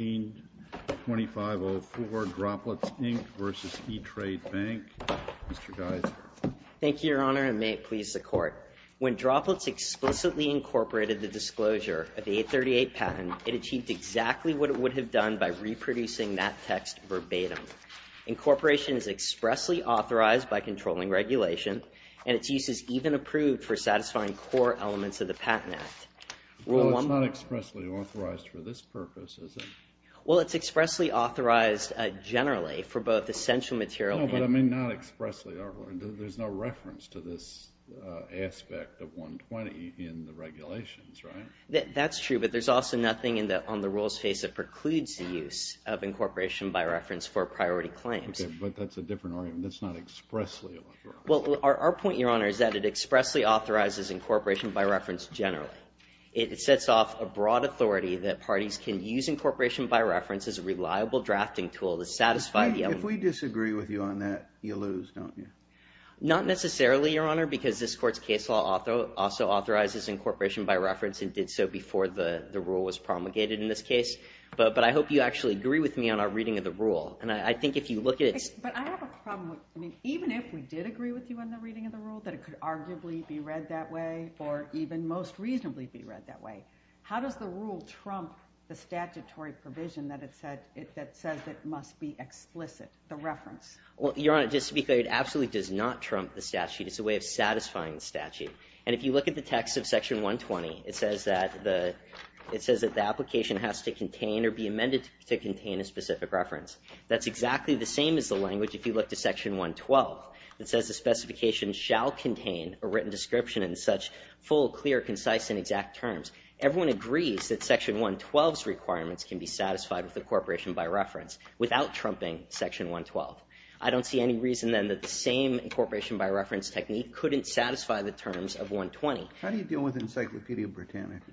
Thank you, Your Honor, and may it please the Court. When Droplets explicitly incorporated the disclosure of the 838 patent, it achieved exactly what it would have done by reproducing that text verbatim. Incorporation is expressly authorized by controlling regulation, and its use is even approved for satisfying core elements of the Patent Act. Well, it's not expressly authorized for this purpose, is it? Well, it's expressly authorized generally for both essential material and— No, but I mean not expressly. There's no reference to this aspect of 120 in the regulations, right? That's true, but there's also nothing on the rules face that precludes the use of incorporation by reference for priority claims. Okay, but that's a different argument. That's not expressly authorized. Well, our point, Your Honor, is that it expressly authorizes incorporation by reference generally. It sets off a broad authority that parties can use incorporation by reference as a reliable drafting tool to satisfy the— If we disagree with you on that, you lose, don't you? Not necessarily, Your Honor, because this Court's case law also authorizes incorporation by reference and did so before the rule was promulgated in this case. But I hope you actually agree with me on our reading of the rule, and I think if you look at its— But I have a problem. I mean, even if we did agree with you on the reading of the rule, that it could arguably be read that way or even most reasonably be read that way. How does the rule trump the statutory provision that it said—that says it must be explicit, the reference? Well, Your Honor, just to be clear, it absolutely does not trump the statute. It's a way of satisfying the statute. And if you look at the text of Section 120, it says that the—it says that the application has to contain or be amended to contain a specific reference. That's exactly the same as the language if you look to Section 112 that says the specification shall contain a written description in such full, clear, concise, and exact terms. Everyone agrees that Section 112's requirements can be satisfied with incorporation by reference without trumping Section 112. I don't see any reason, then, that the same incorporation by reference technique couldn't satisfy the terms of 120. How do you deal with Encyclopædia Britannica?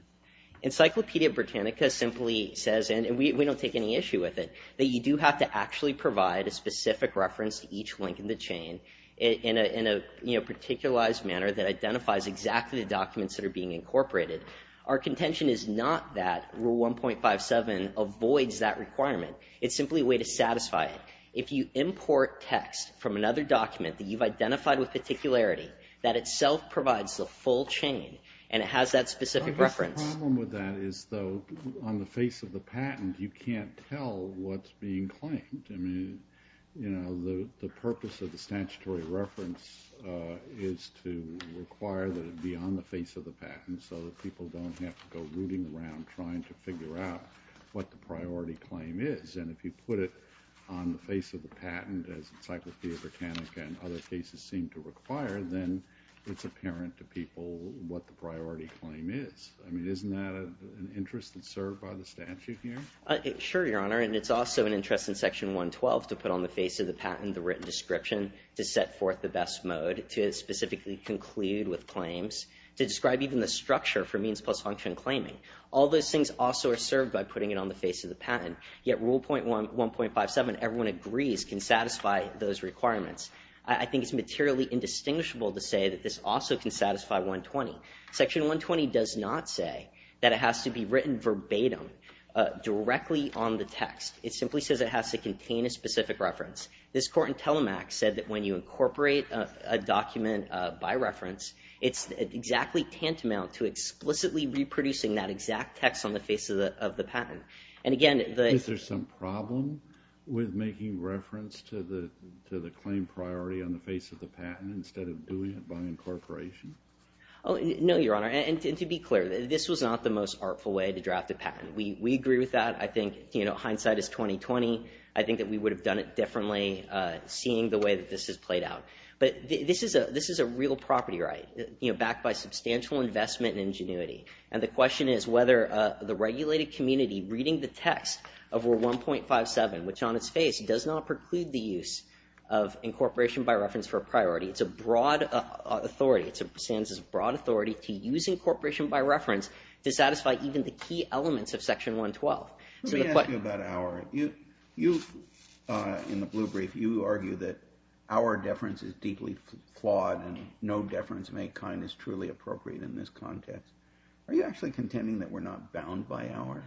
Encyclopædia Britannica simply says—and we don't take any issue with it—that you do have to actually provide a specific reference to each link in the chain in a, you know, particularized manner that identifies exactly the documents that are being incorporated. Our contention is not that Rule 1.57 avoids that requirement. It's simply a way to satisfy it. If you import text from another document that you've identified with particularity, that itself provides the full chain, and it has that specific reference. The problem with that is, though, on the face of the patent, you can't tell what's being claimed. I mean, you know, the purpose of the statutory reference is to require that it be on the face of the patent so that people don't have to go rooting around trying to figure out what the priority claim is, and if you put it on the face of the patent, as Encyclopædia Britannica and other cases seem to require, then it's apparent to people what the priority claim is. I mean, isn't that an interest that's served by the statute here? Sure, Your Honor, and it's also an interest in Section 112 to put on the face of the patent the written description to set forth the best mode to specifically conclude with claims, to describe even the structure for means plus function claiming. All those things also are served by putting it on the face of the patent, yet Rule 1.57, everyone agrees, can satisfy those requirements. I think it's materially indistinguishable to say that this also can satisfy 120. Section 120 does not say that it has to be written verbatim directly on the text. It simply says it has to contain a specific reference. This court in Telemac said that when you incorporate a document by reference, it's exactly tantamount to explicitly reproducing that exact text on the face of the patent. And again, the- Is there some problem with making reference to the claim priority on the face of the patent instead of doing it by incorporation? No, Your Honor, and to be clear, this was not the most artful way to draft a patent. We agree with that. I think, you know, hindsight is 20-20. I think that we would have done it differently seeing the way that this has played out. But this is a real property right, you know, backed by substantial investment and ingenuity. And the question is whether the regulated community reading the text of Rule 1.57, which on its face does not preclude the use of incorporation by reference for a priority, it's a broad authority. It stands as a broad authority to use incorporation by reference to satisfy even the key elements of Section 112. Let me ask you about Auer. You, in the blue brief, you argue that Auer deference is deeply flawed and no deference of any kind is truly appropriate in this context. Are you actually contending that we're not bound by Auer?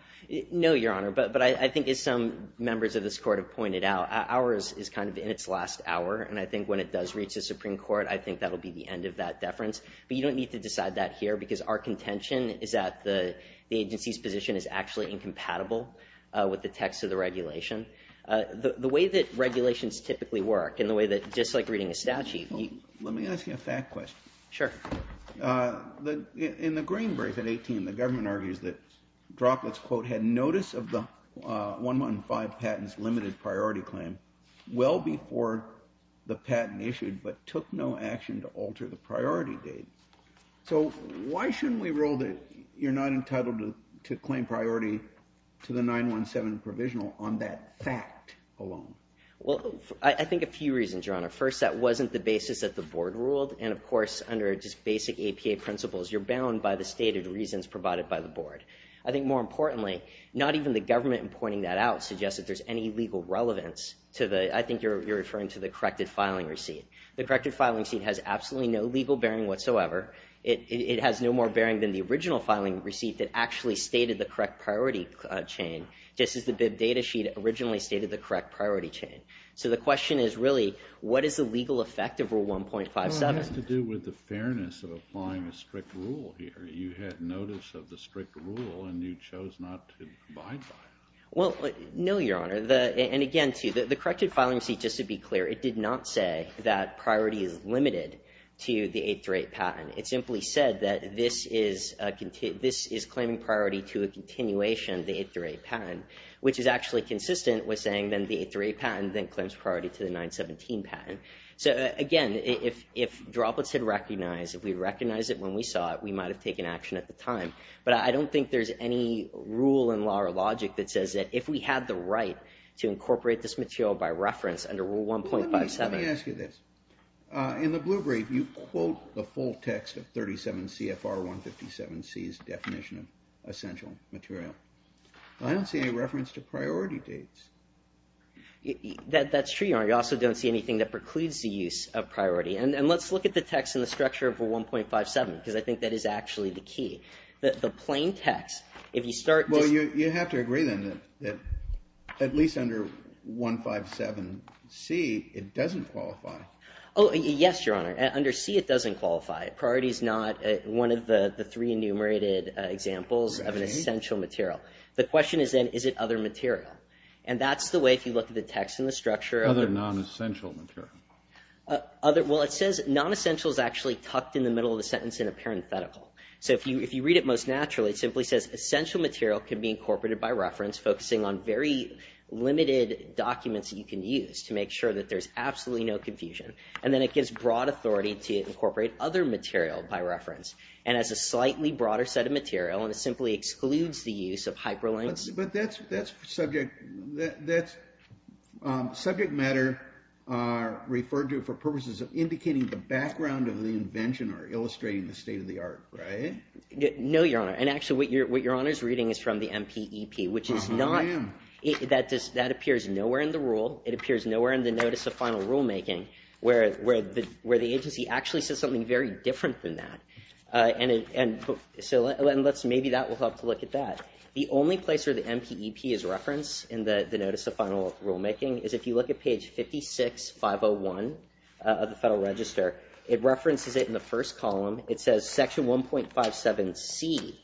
No, Your Honor, but I think as some members of this court have pointed out, Auer is kind of in its last hour. And I think when it does reach the Supreme Court, I think that will be the end of that deference. But you don't need to decide that here because our contention is that the agency's position is actually incompatible with the text of the regulation. The way that regulations typically work and the way that, just like reading a statute, you... Let me ask you a fact question. Sure. In the green brief at 18, the government argues that Droplets, quote, had notice of the 115 priority claim well before the patent issued, but took no action to alter the priority date. So why shouldn't we rule that you're not entitled to claim priority to the 9-1-7 provisional on that fact alone? Well, I think a few reasons, Your Honor. First, that wasn't the basis that the board ruled. And of course, under just basic APA principles, you're bound by the stated reasons provided by the board. I think more importantly, not even the government in pointing that out suggests that there's any legal relevance to the... I think you're referring to the corrected filing receipt. The corrected filing receipt has absolutely no legal bearing whatsoever. It has no more bearing than the original filing receipt that actually stated the correct priority chain, just as the bib data sheet originally stated the correct priority chain. So the question is really, what is the legal effect of Rule 1.57? Well, it has to do with the fairness of applying a strict rule here. You had notice of the strict rule, and you chose not to abide by it. Well, no, Your Honor. And again, the corrected filing receipt, just to be clear, it did not say that priority is limited to the 8-3-8 patent. It simply said that this is claiming priority to a continuation of the 8-3-8 patent, which is actually consistent with saying then the 8-3-8 patent then claims priority to the 9-1-7 patent. So again, if droplets had recognized, if we recognized it when we saw it, we might have taken action at the time. But I don't think there's any rule in law or logic that says that if we had the right to incorporate this material by reference under Rule 1.57. Let me ask you this. In the blue brief, you quote the full text of 37 CFR 157C's definition of essential material. I don't see any reference to priority dates. That's true, Your Honor. You also don't see anything that precludes the use of priority. And let's look at the text and the structure of Rule 1.57, because I think that is actually the key. The plain text, if you start just... Well, you have to agree then that at least under 157C, it doesn't qualify. Oh, yes, Your Honor. Under C, it doesn't qualify. Priority is not one of the three enumerated examples of an essential material. The question is then, is it other material? And that's the way, if you look at the text and the structure... Other non-essential material. Well, it says non-essential is actually tucked in the middle of the sentence in a parenthetical. So if you read it most naturally, it simply says essential material can be incorporated by reference, focusing on very limited documents that you can use to make sure that there's absolutely no confusion. And then it gives broad authority to incorporate other material by reference. And as a slightly broader set of material, and it simply excludes the use of hyperlinks... But that's subject matter referred to for purposes of indicating the background of the invention or illustrating the state of the art, right? No, Your Honor. And actually, what Your Honor's reading is from the MPEP, which is not... That appears nowhere in the rule. It appears nowhere in the notice of final rulemaking, where the agency actually says something very different than that. And maybe that will help to look at that. The only place where the MPEP is referenced in the notice of final rulemaking is if you look at page 56-501 of the Federal Register, it references it in the first column. It says section 1.57C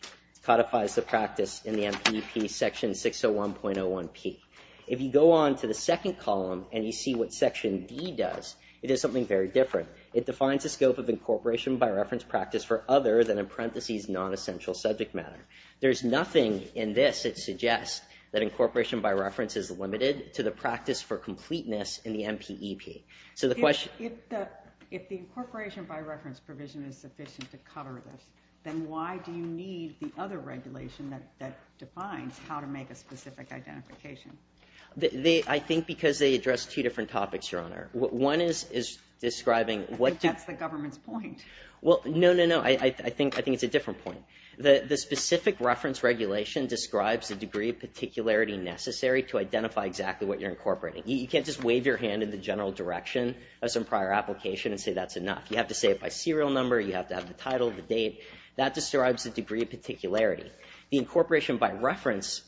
codifies the practice in the MPEP section 601.01P. If you go on to the second column and you see what section D does, it is something very different. It defines the scope of incorporation by reference practice for other than in parentheses non-essential subject matter. There's nothing in this that suggests that incorporation by reference is limited to the practice for completeness in the MPEP. So the question... If the incorporation by reference provision is sufficient to cover this, then why do you need the other regulation that defines how to make a specific identification? I think because they address two different topics, Your Honor. One is describing... I think that's the government's point. Well, no, no, no. I think it's a different point. The specific reference regulation describes the degree of particularity necessary to identify exactly what you're incorporating. You can't just wave your hand in the general direction of some prior application and say that's enough. You have to say it by serial number. You have to have the title, the date. That describes the degree of particularity. The incorporation by reference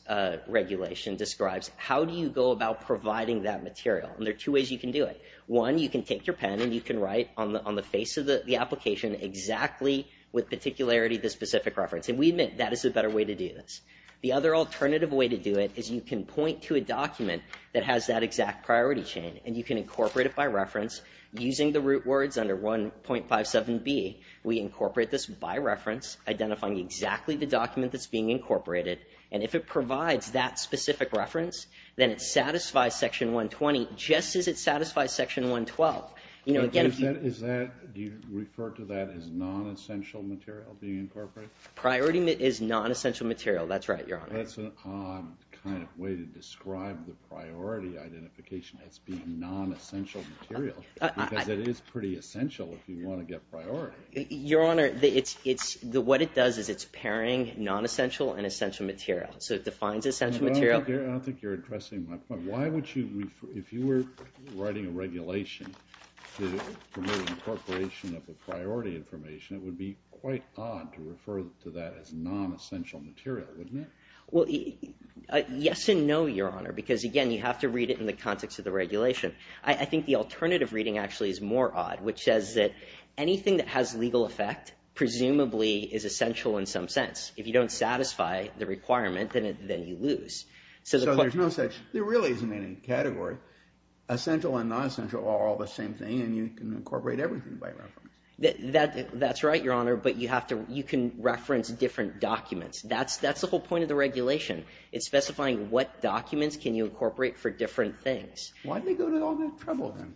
regulation describes how do you go about providing that material. And there are two ways you can do it. One, you can take your pen and you can write on the face of the application exactly with the specific reference. And we admit that is a better way to do this. The other alternative way to do it is you can point to a document that has that exact priority chain and you can incorporate it by reference using the root words under 1.57B. We incorporate this by reference, identifying exactly the document that's being incorporated. And if it provides that specific reference, then it satisfies Section 120 just as it satisfies Section 112. Do you refer to that as non-essential material being incorporated? Priority is non-essential material. That's right, Your Honor. That's an odd kind of way to describe the priority identification as being non-essential material. Because it is pretty essential if you want to get priority. Your Honor, what it does is it's pairing non-essential and essential material. So it defines essential material. I don't think you're addressing my point. Your Honor, if you were writing a regulation to promote incorporation of a priority information, it would be quite odd to refer to that as non-essential material, wouldn't it? Well, yes and no, Your Honor. Because again, you have to read it in the context of the regulation. I think the alternative reading actually is more odd, which says that anything that has legal effect presumably is essential in some sense. If you don't satisfy the requirement, then you lose. So there's no such... There really isn't any category. Essential and non-essential are all the same thing, and you can incorporate everything by reference. That's right, Your Honor. But you have to... You can reference different documents. That's the whole point of the regulation. It's specifying what documents can you incorporate for different things. Why did they go to all that trouble, then?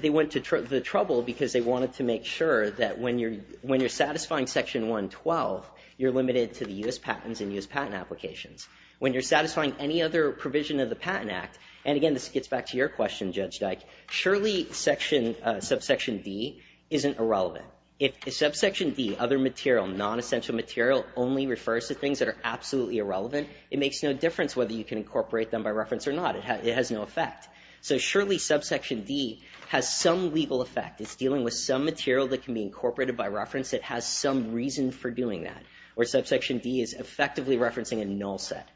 They went to the trouble because they wanted to make sure that when you're satisfying Section 112, you're limited to the U.S. patents and U.S. patent applications. When you're satisfying any other provision of the Patent Act, and again, this gets back to your question, Judge Dyke, surely Subsection D isn't irrelevant. If Subsection D, other material, non-essential material, only refers to things that are absolutely irrelevant, it makes no difference whether you can incorporate them by reference or not. It has no effect. So surely Subsection D has some legal effect. It's dealing with some material that can be incorporated by reference that has some reason for doing that, where Subsection D is effectively referencing a null set.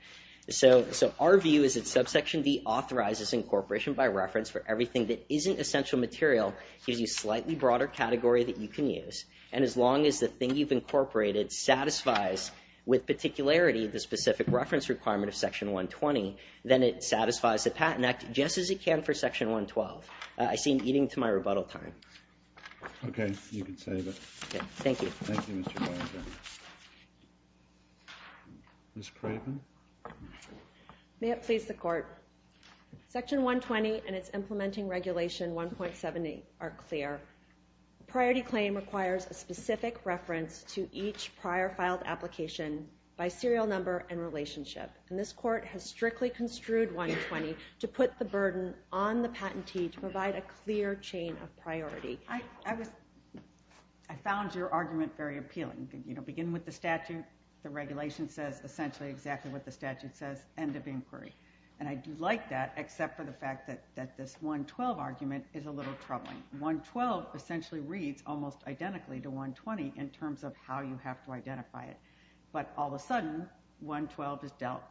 So our view is that Subsection D authorizes incorporation by reference for everything that isn't essential material, gives you a slightly broader category that you can use. And as long as the thing you've incorporated satisfies, with particularity, the specific reference requirement of Section 120, then it satisfies the Patent Act just as it can for Section 112. I seem to be getting to my rebuttal time. Okay. You can save it. Thank you. Thank you, Mr. Weinberg. Ms. Craven? May it please the Court, Section 120 and its implementing regulation 1.70 are clear. Priority claim requires a specific reference to each prior filed application by serial number and relationship, and this Court has strictly construed 120 to put the burden on I found your argument very appealing. You know, begin with the statute. The regulation says essentially exactly what the statute says, end of inquiry. And I do like that, except for the fact that this 112 argument is a little troubling. 112 essentially reads almost identically to 120 in terms of how you have to identify it. But all of a sudden, 112 is dealt,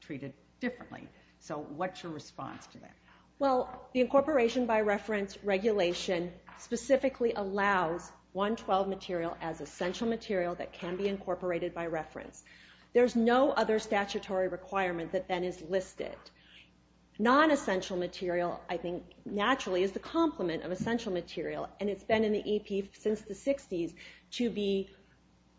treated differently. So what's your response to that? Well, the incorporation by reference regulation specifically allows 112 material as essential material that can be incorporated by reference. There's no other statutory requirement that then is listed. Non-essential material, I think, naturally is the complement of essential material. And it's been in the EP since the 60s to be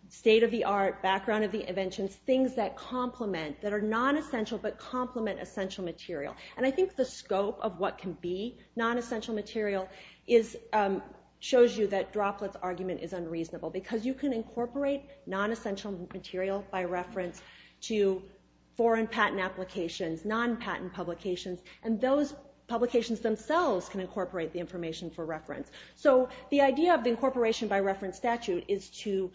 state of the art, background of the inventions, things that complement, that are non-essential but complement essential material. And I think the scope of what can be non-essential material shows you that Droplet's argument is unreasonable, because you can incorporate non-essential material by reference to foreign patent applications, non-patent publications, and those publications themselves can incorporate the information for reference. So the idea of the incorporation by reference statute is to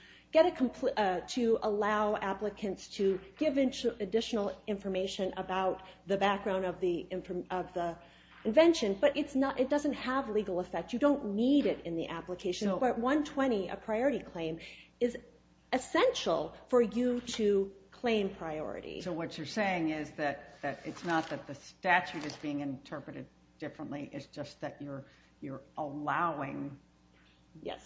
allow applicants to give additional information about the background of the invention. But it doesn't have legal effect. You don't need it in the application. But 120, a priority claim, is essential for you to claim priority. So what you're saying is that it's not that the statute is being interpreted differently, it's just that you're allowing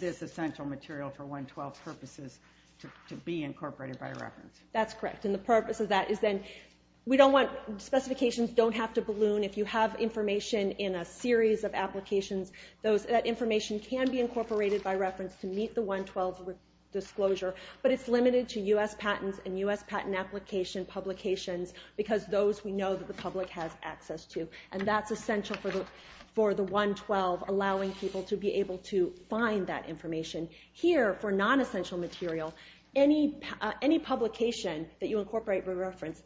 this essential material for 112 purposes to be incorporated by reference. That's correct. And the purpose of that is then, specifications don't have to balloon. If you have information in a series of applications, that information can be incorporated by reference to meet the 112 disclosure. But it's limited to US patents and US patent application publications, because those we know that the public has access to. And that's essential for the 112, allowing people to be able to find that information. Here, for non-essential material, any publication that you incorporate by reference,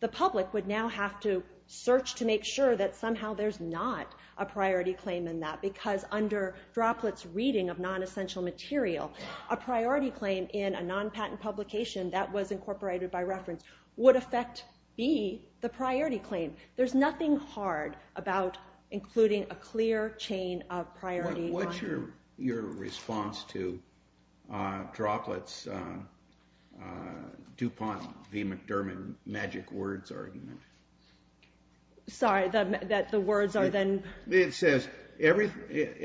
the public would now have to search to make sure that somehow there's not a priority claim in that. Because under droplets reading of non-essential material, a priority claim in a non-patent publication that was incorporated by reference would affect B, the priority claim. There's nothing hard about including a clear chain of priority. What's your response to Droplets, DuPont, V. McDermott, Magic Words argument? Sorry, that the words are then? It says, it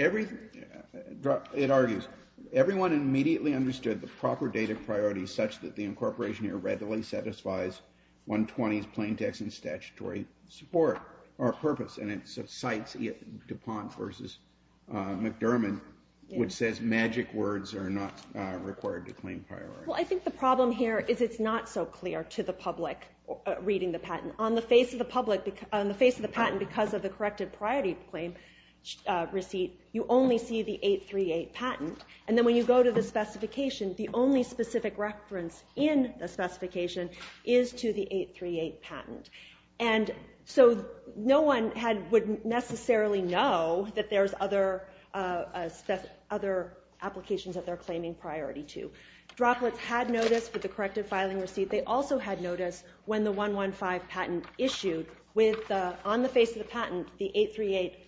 argues, everyone immediately understood the proper data priority such that the incorporation here readily satisfies 120's plain text and statutory support or purpose. And it cites DuPont versus McDermott, which says Magic Words are not required to claim priority. Well, I think the problem here is it's not so clear to the public reading the patent. On the face of the patent, because of the corrective priority claim receipt, you only see the 838 patent. And then when you go to the specification, the only specific reference in the specification is to the 838 patent. And so no one would necessarily know that there's other applications that they're claiming priority to. Droplets had notice for the corrective filing receipt. They also had notice when the 115 patent issued. On the face of the patent, the 838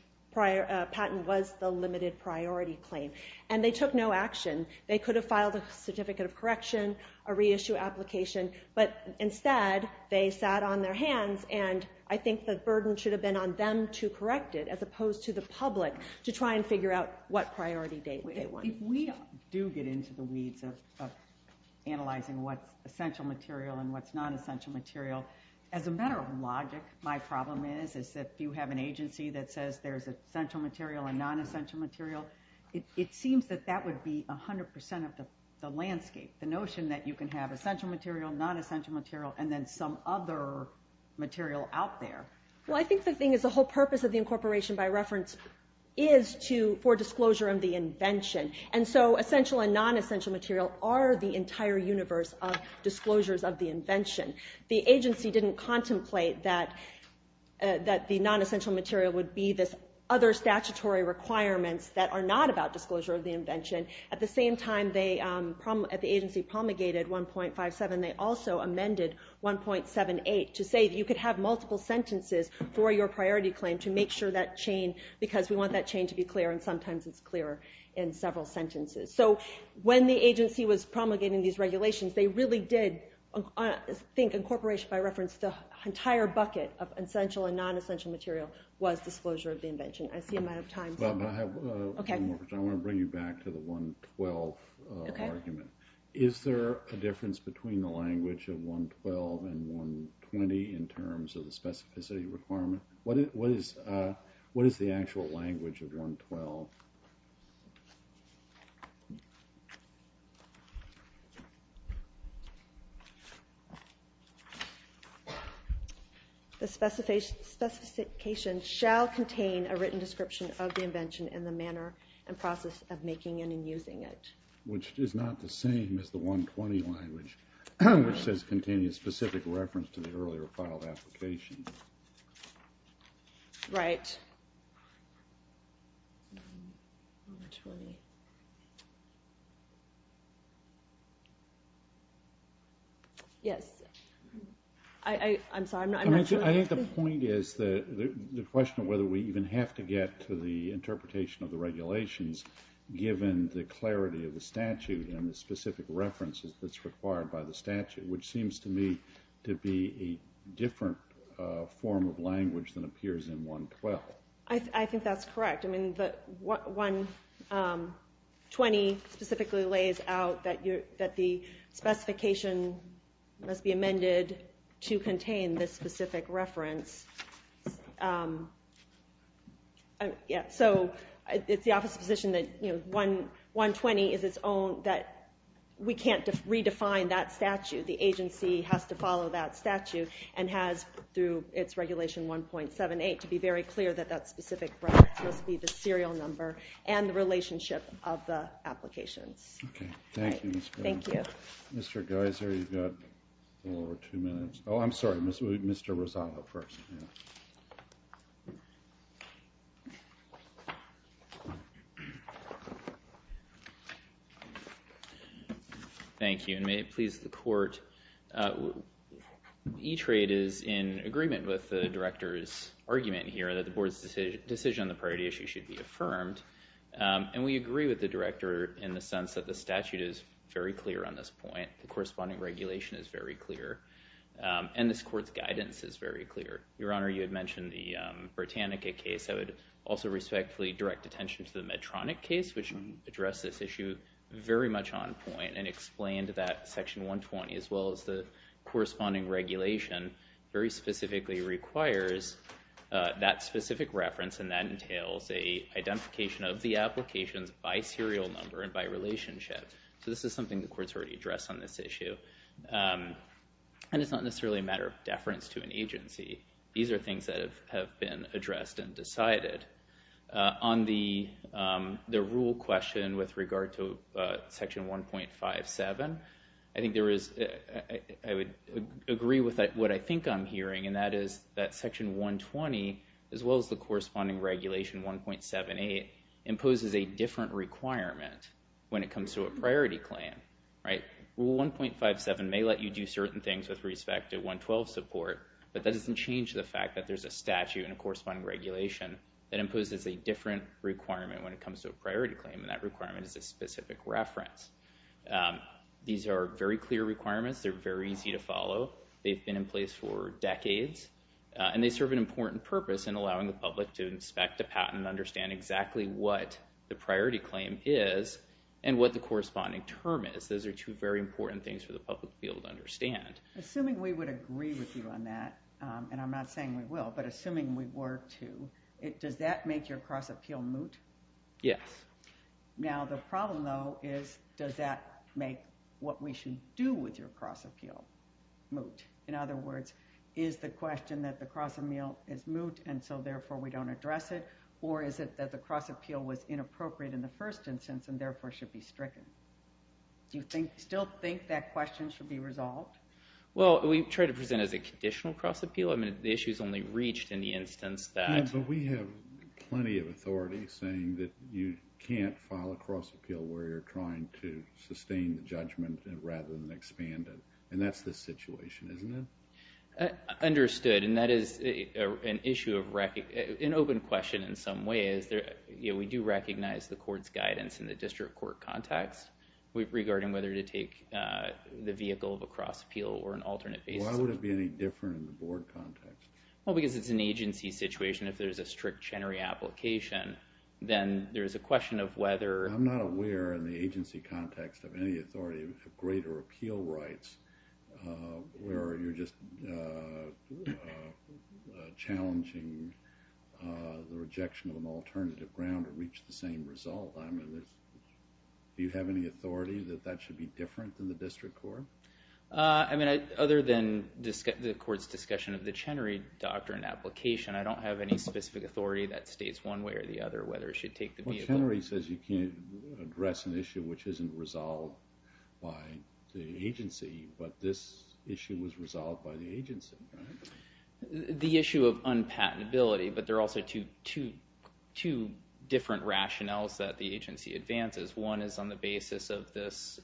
patent was the limited priority claim. And they took no action. They could have filed a certificate of correction, a reissue application. But instead, they sat on their hands. And I think the burden should have been on them to correct it, as opposed to the public to try and figure out what priority date they wanted. If we do get into the weeds of analyzing what's essential material and what's non-essential material, as a matter of logic, my problem is that if you have an agency that says there's essential material and non-essential material, it seems that that would be 100% of the landscape. The notion that you can have essential material, non-essential material, and then some other material out there. Well, I think the thing is the whole purpose of the incorporation, by reference, is for disclosure of the invention. And so essential and non-essential material are the entire universe of disclosures of the invention. The agency didn't contemplate that the non-essential material would be this other statutory requirements that are not about disclosure of the invention. And at the same time, the agency promulgated 1.57, they also amended 1.78 to say you could have multiple sentences for your priority claim to make sure that chain, because we want that chain to be clear. And sometimes it's clearer in several sentences. So when the agency was promulgating these regulations, they really did think incorporation, by reference, the entire bucket of essential and non-essential material was disclosure of the invention. I see I'm out of time. I have one more question. I want to bring you back to the 1.12 argument. Is there a difference between the language of 1.12 and 1.20 in terms of the specificity requirement? What is the actual language of 1.12? The specification shall contain a written description of the invention in the manner and process of making it and using it. Which is not the same as the 1.20 language, which says it contains a specific reference to the earlier filed application. Right. 1.20. Yes. I'm sorry, I'm not sure. I think the point is, the question of whether we even have to get to the interpretation of the regulations, given the clarity of the statute and the specific references that's required by the statute, which seems to me to be a different form of language than appears in 1.12. I think that's correct. I mean, the 1.20 specifically lays out that the specification must be amended to contain this specific reference. So, it's the office's position that 1.20 is its own, that we can't redefine that statute. The agency has to follow that statute and has, through its regulation 1.78, to be very clear that that specific reference must be the serial number and the relationship of the applications. Okay. Thank you. Thank you. Mr. Geiser, you've got a little over two minutes. Oh, I'm sorry. Mr. Rosado first. Thank you. And may it please the Court, E-Trade is in agreement with the Director's argument here that the Board's decision on the priority issue should be affirmed. And we agree with the Director in the sense that the statute is very clear on this point. The corresponding regulation is very clear. And this Court's guidance is very clear. Your Honor, you had mentioned the Britannica case. I would also respectfully direct attention to the Medtronic case, which addressed this issue very much on point and explained that Section 120, as well as the corresponding regulation, very specifically requires that specific reference, and that entails an identification of the applications by serial number and by relationship. So this is something the Court's already addressed on this issue. And it's not necessarily a matter of deference to an agency. These are things that have been addressed and decided. On the rule question with regard to Section 1.57, I think there is, I would agree with what I think I'm hearing, and that is that Section 120, as well as the corresponding regulation 1.78, imposes a different requirement when it comes to a priority claim, right? Rule 1.57 may let you do certain things with respect to 112 support, but that doesn't change the fact that there's a statute and a corresponding regulation that imposes a different requirement when it comes to a priority claim, and that requirement is a specific reference. These are very clear requirements. They're very easy to follow. They've been in place for decades. And they serve an important purpose in allowing the public to inspect a patent and understand exactly what the priority claim is and what the corresponding term is. Those are two very important things for the public to be able to understand. Assuming we would agree with you on that, and I'm not saying we will, but assuming we were to, does that make your cross-appeal moot? Yes. Now, the problem, though, is does that make what we should do with your cross-appeal moot? In other words, is the question that the cross-appeal is moot, and so, therefore, we don't address it, or is it that the cross-appeal was inappropriate in the first instance and, therefore, should be stricken? Do you still think that question should be resolved? Well, we try to present it as a conditional cross-appeal. I mean, the issue is only reached in the instance that... Yeah, but we have plenty of authorities saying that you can't file a cross-appeal where you're trying to sustain the judgment rather than expand it. And that's the situation, isn't it? Understood, and that is an issue of... an open question in some ways. We do recognize the court's guidance in the district court context regarding whether to take the vehicle of a cross-appeal or an alternate basis. Why would it be any different in the board context? Well, because it's an agency situation. If there's a strict Chenery application, then there's a question of whether... I'm not aware in the agency context of any authority of greater appeal rights where you're just challenging the rejection of an alternative ground to reach the same result. I mean, do you have any authority that that should be different than the district court? I mean, other than the court's discussion of the Chenery doctrine application, I don't have any specific authority that states one way or the other whether it should take the vehicle... But Chenery says you can't address an issue which isn't resolved by the agency, but this issue was resolved by the agency, right? The issue of unpatentability, but there are also two different rationales that the agency advances. One is on the basis of this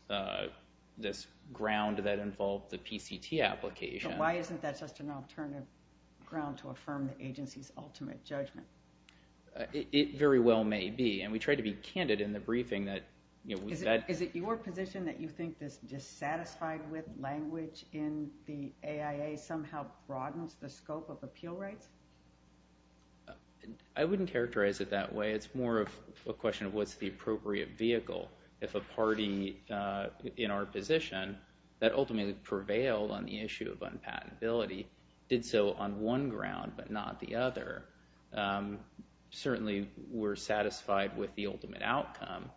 ground that involved the PCT application. Why isn't that just an alternative ground to affirm the agency's ultimate judgment? It very well may be, and we try to be candid in the briefing that... Is it your position that you think this dissatisfied with language in the AIA somehow broadens the scope of appeal rights? I wouldn't characterize it that way. It's more of a question of what's the appropriate vehicle if a party in our position that ultimately prevailed on the issue of unpatentability did so on one ground but not the other. Certainly we're satisfied with the ultimate outcome,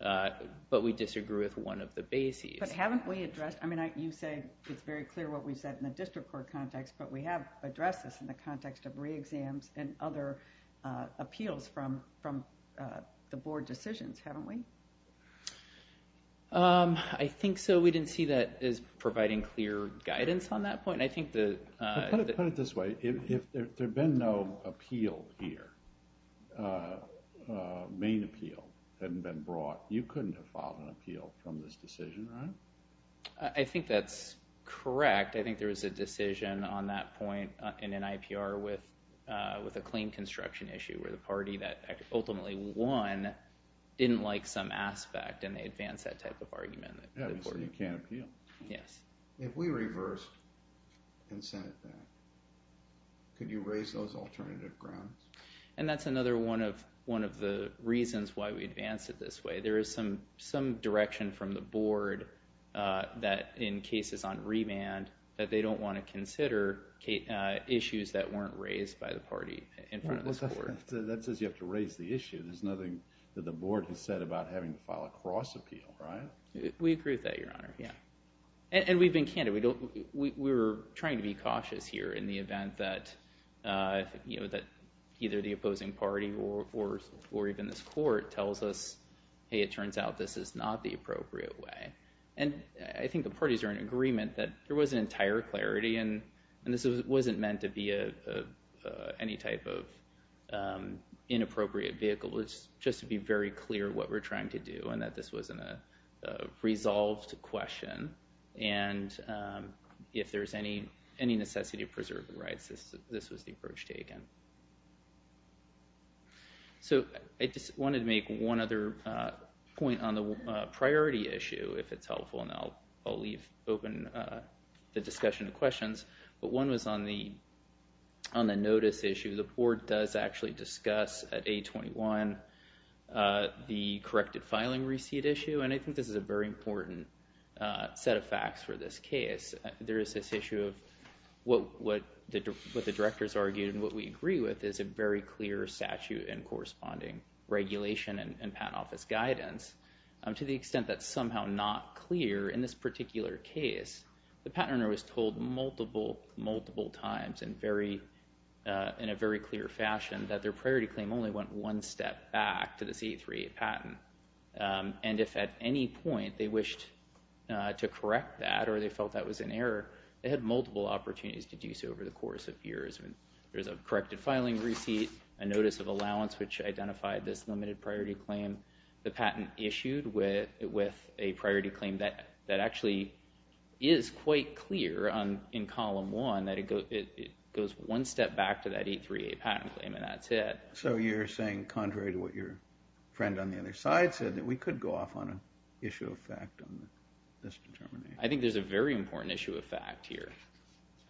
but we disagree with one of the bases. But haven't we addressed... I mean, you say it's very clear what we've said in the district court context, but we have addressed this in the context of re-exams and other appeals from the board decisions, haven't we? I think so. Maybe we didn't see that as providing clear guidance on that point. I think that... Put it this way. If there had been no appeal here, main appeal hadn't been brought, you couldn't have filed an appeal from this decision, right? I think that's correct. I think there was a decision on that point in an IPR with a claim construction issue where the party that ultimately won didn't like some aspect, and they advanced that type of argument. So you can't appeal. Yes. If we reversed consent at that, could you raise those alternative grounds? And that's another one of the reasons why we advanced it this way. There is some direction from the board that in cases on remand that they don't want to consider issues that weren't raised by the party in front of the board. That says you have to raise the issue. There's nothing that the board has said about having to file a cross-appeal, right? We agree with that, Your Honor, yeah. And we've been candid. We were trying to be cautious here in the event that either the opposing party or even this court tells us, hey, it turns out this is not the appropriate way. And I think the parties are in agreement that there was an entire clarity, and this wasn't meant to be any type of inappropriate vehicle. It's just to be very clear what we're trying to do and that this wasn't a resolved question. And if there's any necessity of preserving rights, this was the approach taken. So I just wanted to make one other point on the priority issue, if it's helpful, and I'll leave open the discussion to questions, but one was on the notice issue. The board does actually discuss at 821 the corrected filing receipt issue, and I think this is a very important set of facts for this case. There is this issue of what the directors argued and what we agree with is a very clear statute and corresponding regulation and patent office guidance, to the extent that somehow not clear in this particular case. The patent owner was told multiple, multiple times in a very clear fashion that their priority claim only went one step back to the C838 patent, and if at any point they wished to correct that or they felt that was an error, they had multiple opportunities to do so over the course of years. There was a corrected filing receipt, a notice of allowance which identified this limited priority claim, the patent issued with a priority claim that actually is quite clear in column one, that it goes one step back to that C838 patent claim and that's it. So you're saying, contrary to what your friend on the other side said, that we could go off on an issue of fact on this determination? I think there's a very important issue of fact here,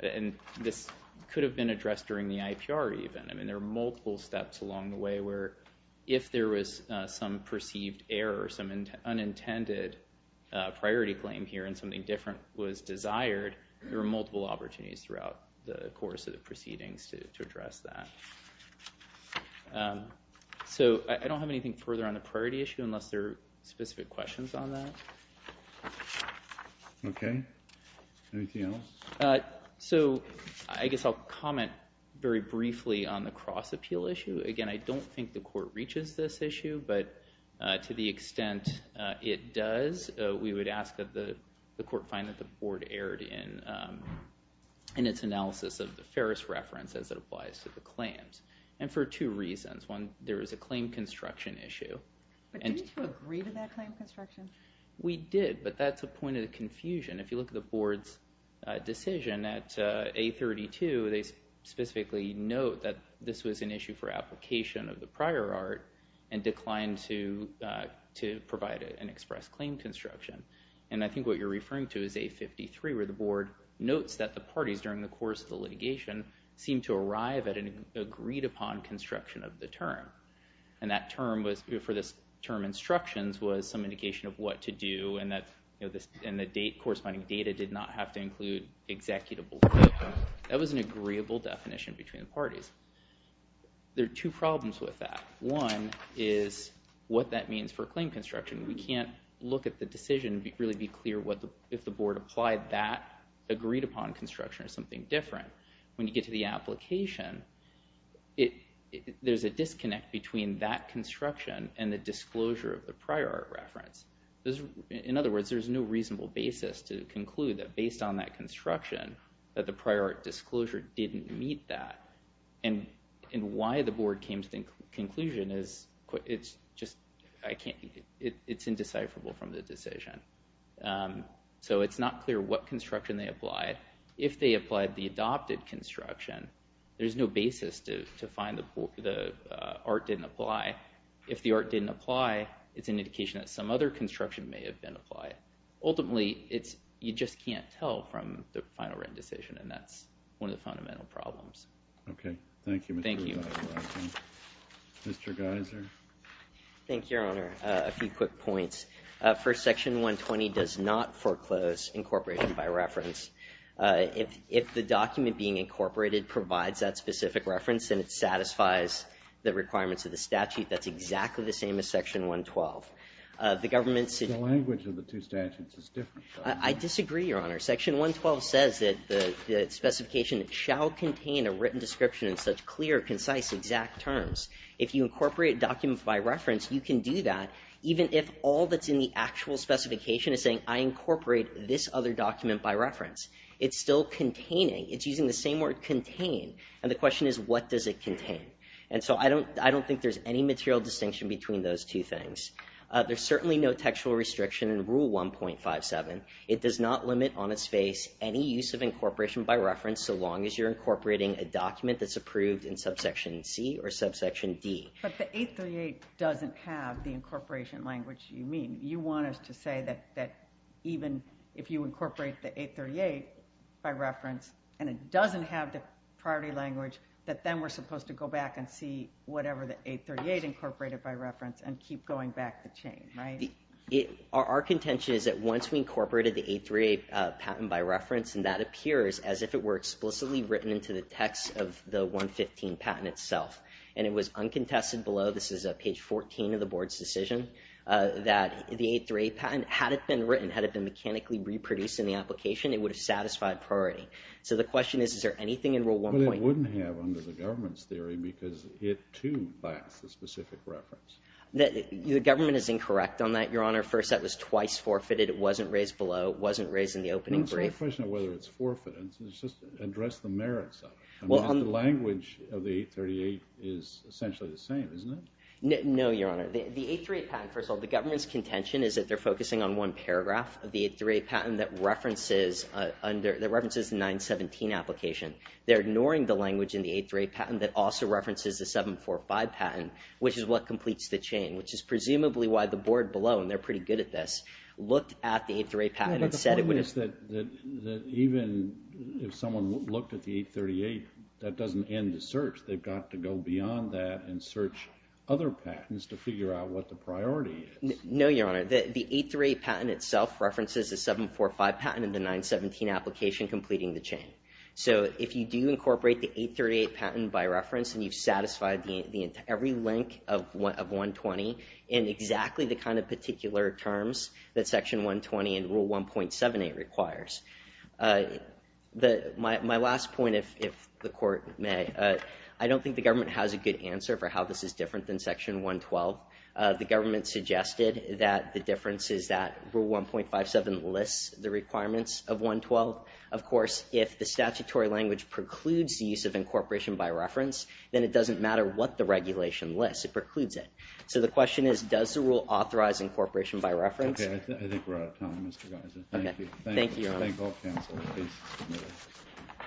and this could have been addressed during the IPR even. There are multiple steps along the way where if there was some perceived error, some unintended priority claim here and something different was desired, there were multiple opportunities throughout the course of the proceedings to address that. So I don't have anything further on the priority issue unless there are specific questions on that. Okay. Anything else? So I guess I'll comment very briefly on the cross-appeal issue. Again, I don't think the court reaches this issue, but to the extent it does, we would ask that the court find that the board erred in its analysis of the Ferris reference as it applies to the claims, and for two reasons. One, there is a claim construction issue. But didn't you agree to that claim construction? We did, but that's a point of confusion. If you look at the board's decision at A32, they specifically note that this was an issue for application of the prior art and declined to provide an express claim construction. And I think what you're referring to is A53, where the board notes that the parties during the course of the litigation seemed to arrive at an agreed-upon construction of the term. And that term was, for this term instructions, was some indication of what to do and the corresponding data did not have to include executable. That was an agreeable definition between the parties. There are two problems with that. One is what that means for claim construction. We can't look at the decision and really be clear if the board applied that agreed-upon construction or something different. When you get to the application, there's a disconnect between that construction and the disclosure of the prior art reference. In other words, there's no reasonable basis to conclude that based on that construction that the prior art disclosure didn't meet that. And why the board came to the conclusion is just, it's indecipherable from the decision. So it's not clear what construction they applied. If they applied the adopted construction, there's no basis to find the art didn't apply. If the art didn't apply, it's an indication that some other construction may have been applied. Ultimately, you just can't tell from the final written decision, and that's one of the fundamental problems. OK. Thank you, Mr. Gyser. Mr. Gyser. Thank you, Your Honor. A few quick points. First, Section 120 does not foreclose incorporation by reference. If the document being incorporated provides that specific reference, then it satisfies the requirements of the statute that's exactly the same as Section 112. The government's... The language of the two statutes is different. I disagree, Your Honor. Section 112 says that the specification shall contain a written description in such clear, concise, exact terms. If you incorporate documents by reference, you can do that even if all that's in the actual specification is saying, I incorporate this other document by reference. It's still containing. It's using the same word, contain. And the question is, what does it contain? And so I don't think there's any material distinction between those two things. There's certainly no textual restriction in Rule 1.57. It does not limit on its face any use of incorporation by reference, so long as you're incorporating a document that's approved in Subsection C or Subsection D. But the 838 doesn't have the incorporation language you mean. You want us to say that even if you incorporate the 838 by reference, and it doesn't have the priority language, that then we're supposed to go back and see whatever the 838 incorporated by reference, and keep going back the chain, right? Our contention is that once we incorporated the 838 patent by reference, and that appears as if it were explicitly written into the text of the 115 patent itself, and it was uncontested below, this is page 14 of the board's decision, that the 838 patent, had it been written, had it been mechanically reproduced in the application, it would have satisfied priority. So the question is, is there anything in Rule 1. But it wouldn't have under the government's theory, because it, too, backs the specific reference. The government is incorrect on that, Your Honor. First, that was twice forfeited. It wasn't raised below. It wasn't raised in the opening brief. So the question of whether it's forfeited is just address the merits of it. I mean, the language of the 838 is essentially the same, isn't it? No, Your Honor. The 838 patent, first of all, the government's contention is that they're focusing on one paragraph of the 838 patent that references under, that references the 917 application. They're ignoring the language in the 838 patent that also references the 745 patent, which is what completes the chain, which is presumably why the board below, and they're pretty good at this, looked at the 838 patent and said it wouldn't. But the point is that even if someone looked at the 838, that doesn't end the search. They've got to go beyond that and search other patents to figure out what the priority is. No, Your Honor. The 838 patent itself references the 745 patent and the 917 application completing the chain. So if you do incorporate the 838 patent by reference and you've satisfied every link of 120 in exactly the kind of particular terms that Section 120 and Rule 1.78 requires. My last point, if the court may, I don't think the government has a good answer for how this is different than Section 112. The government suggested that the difference is that Rule 1.57 lists the requirements of 112. Of course, if the statutory language precludes the use of incorporation by reference, then it doesn't matter what the regulation lists. It precludes it. So the question is, does the rule authorize incorporation by reference? Okay. I think we're out of time, Mr. Geiser. Thank you. Thank you, Your Honor. Thank all counsel. The case is submitted.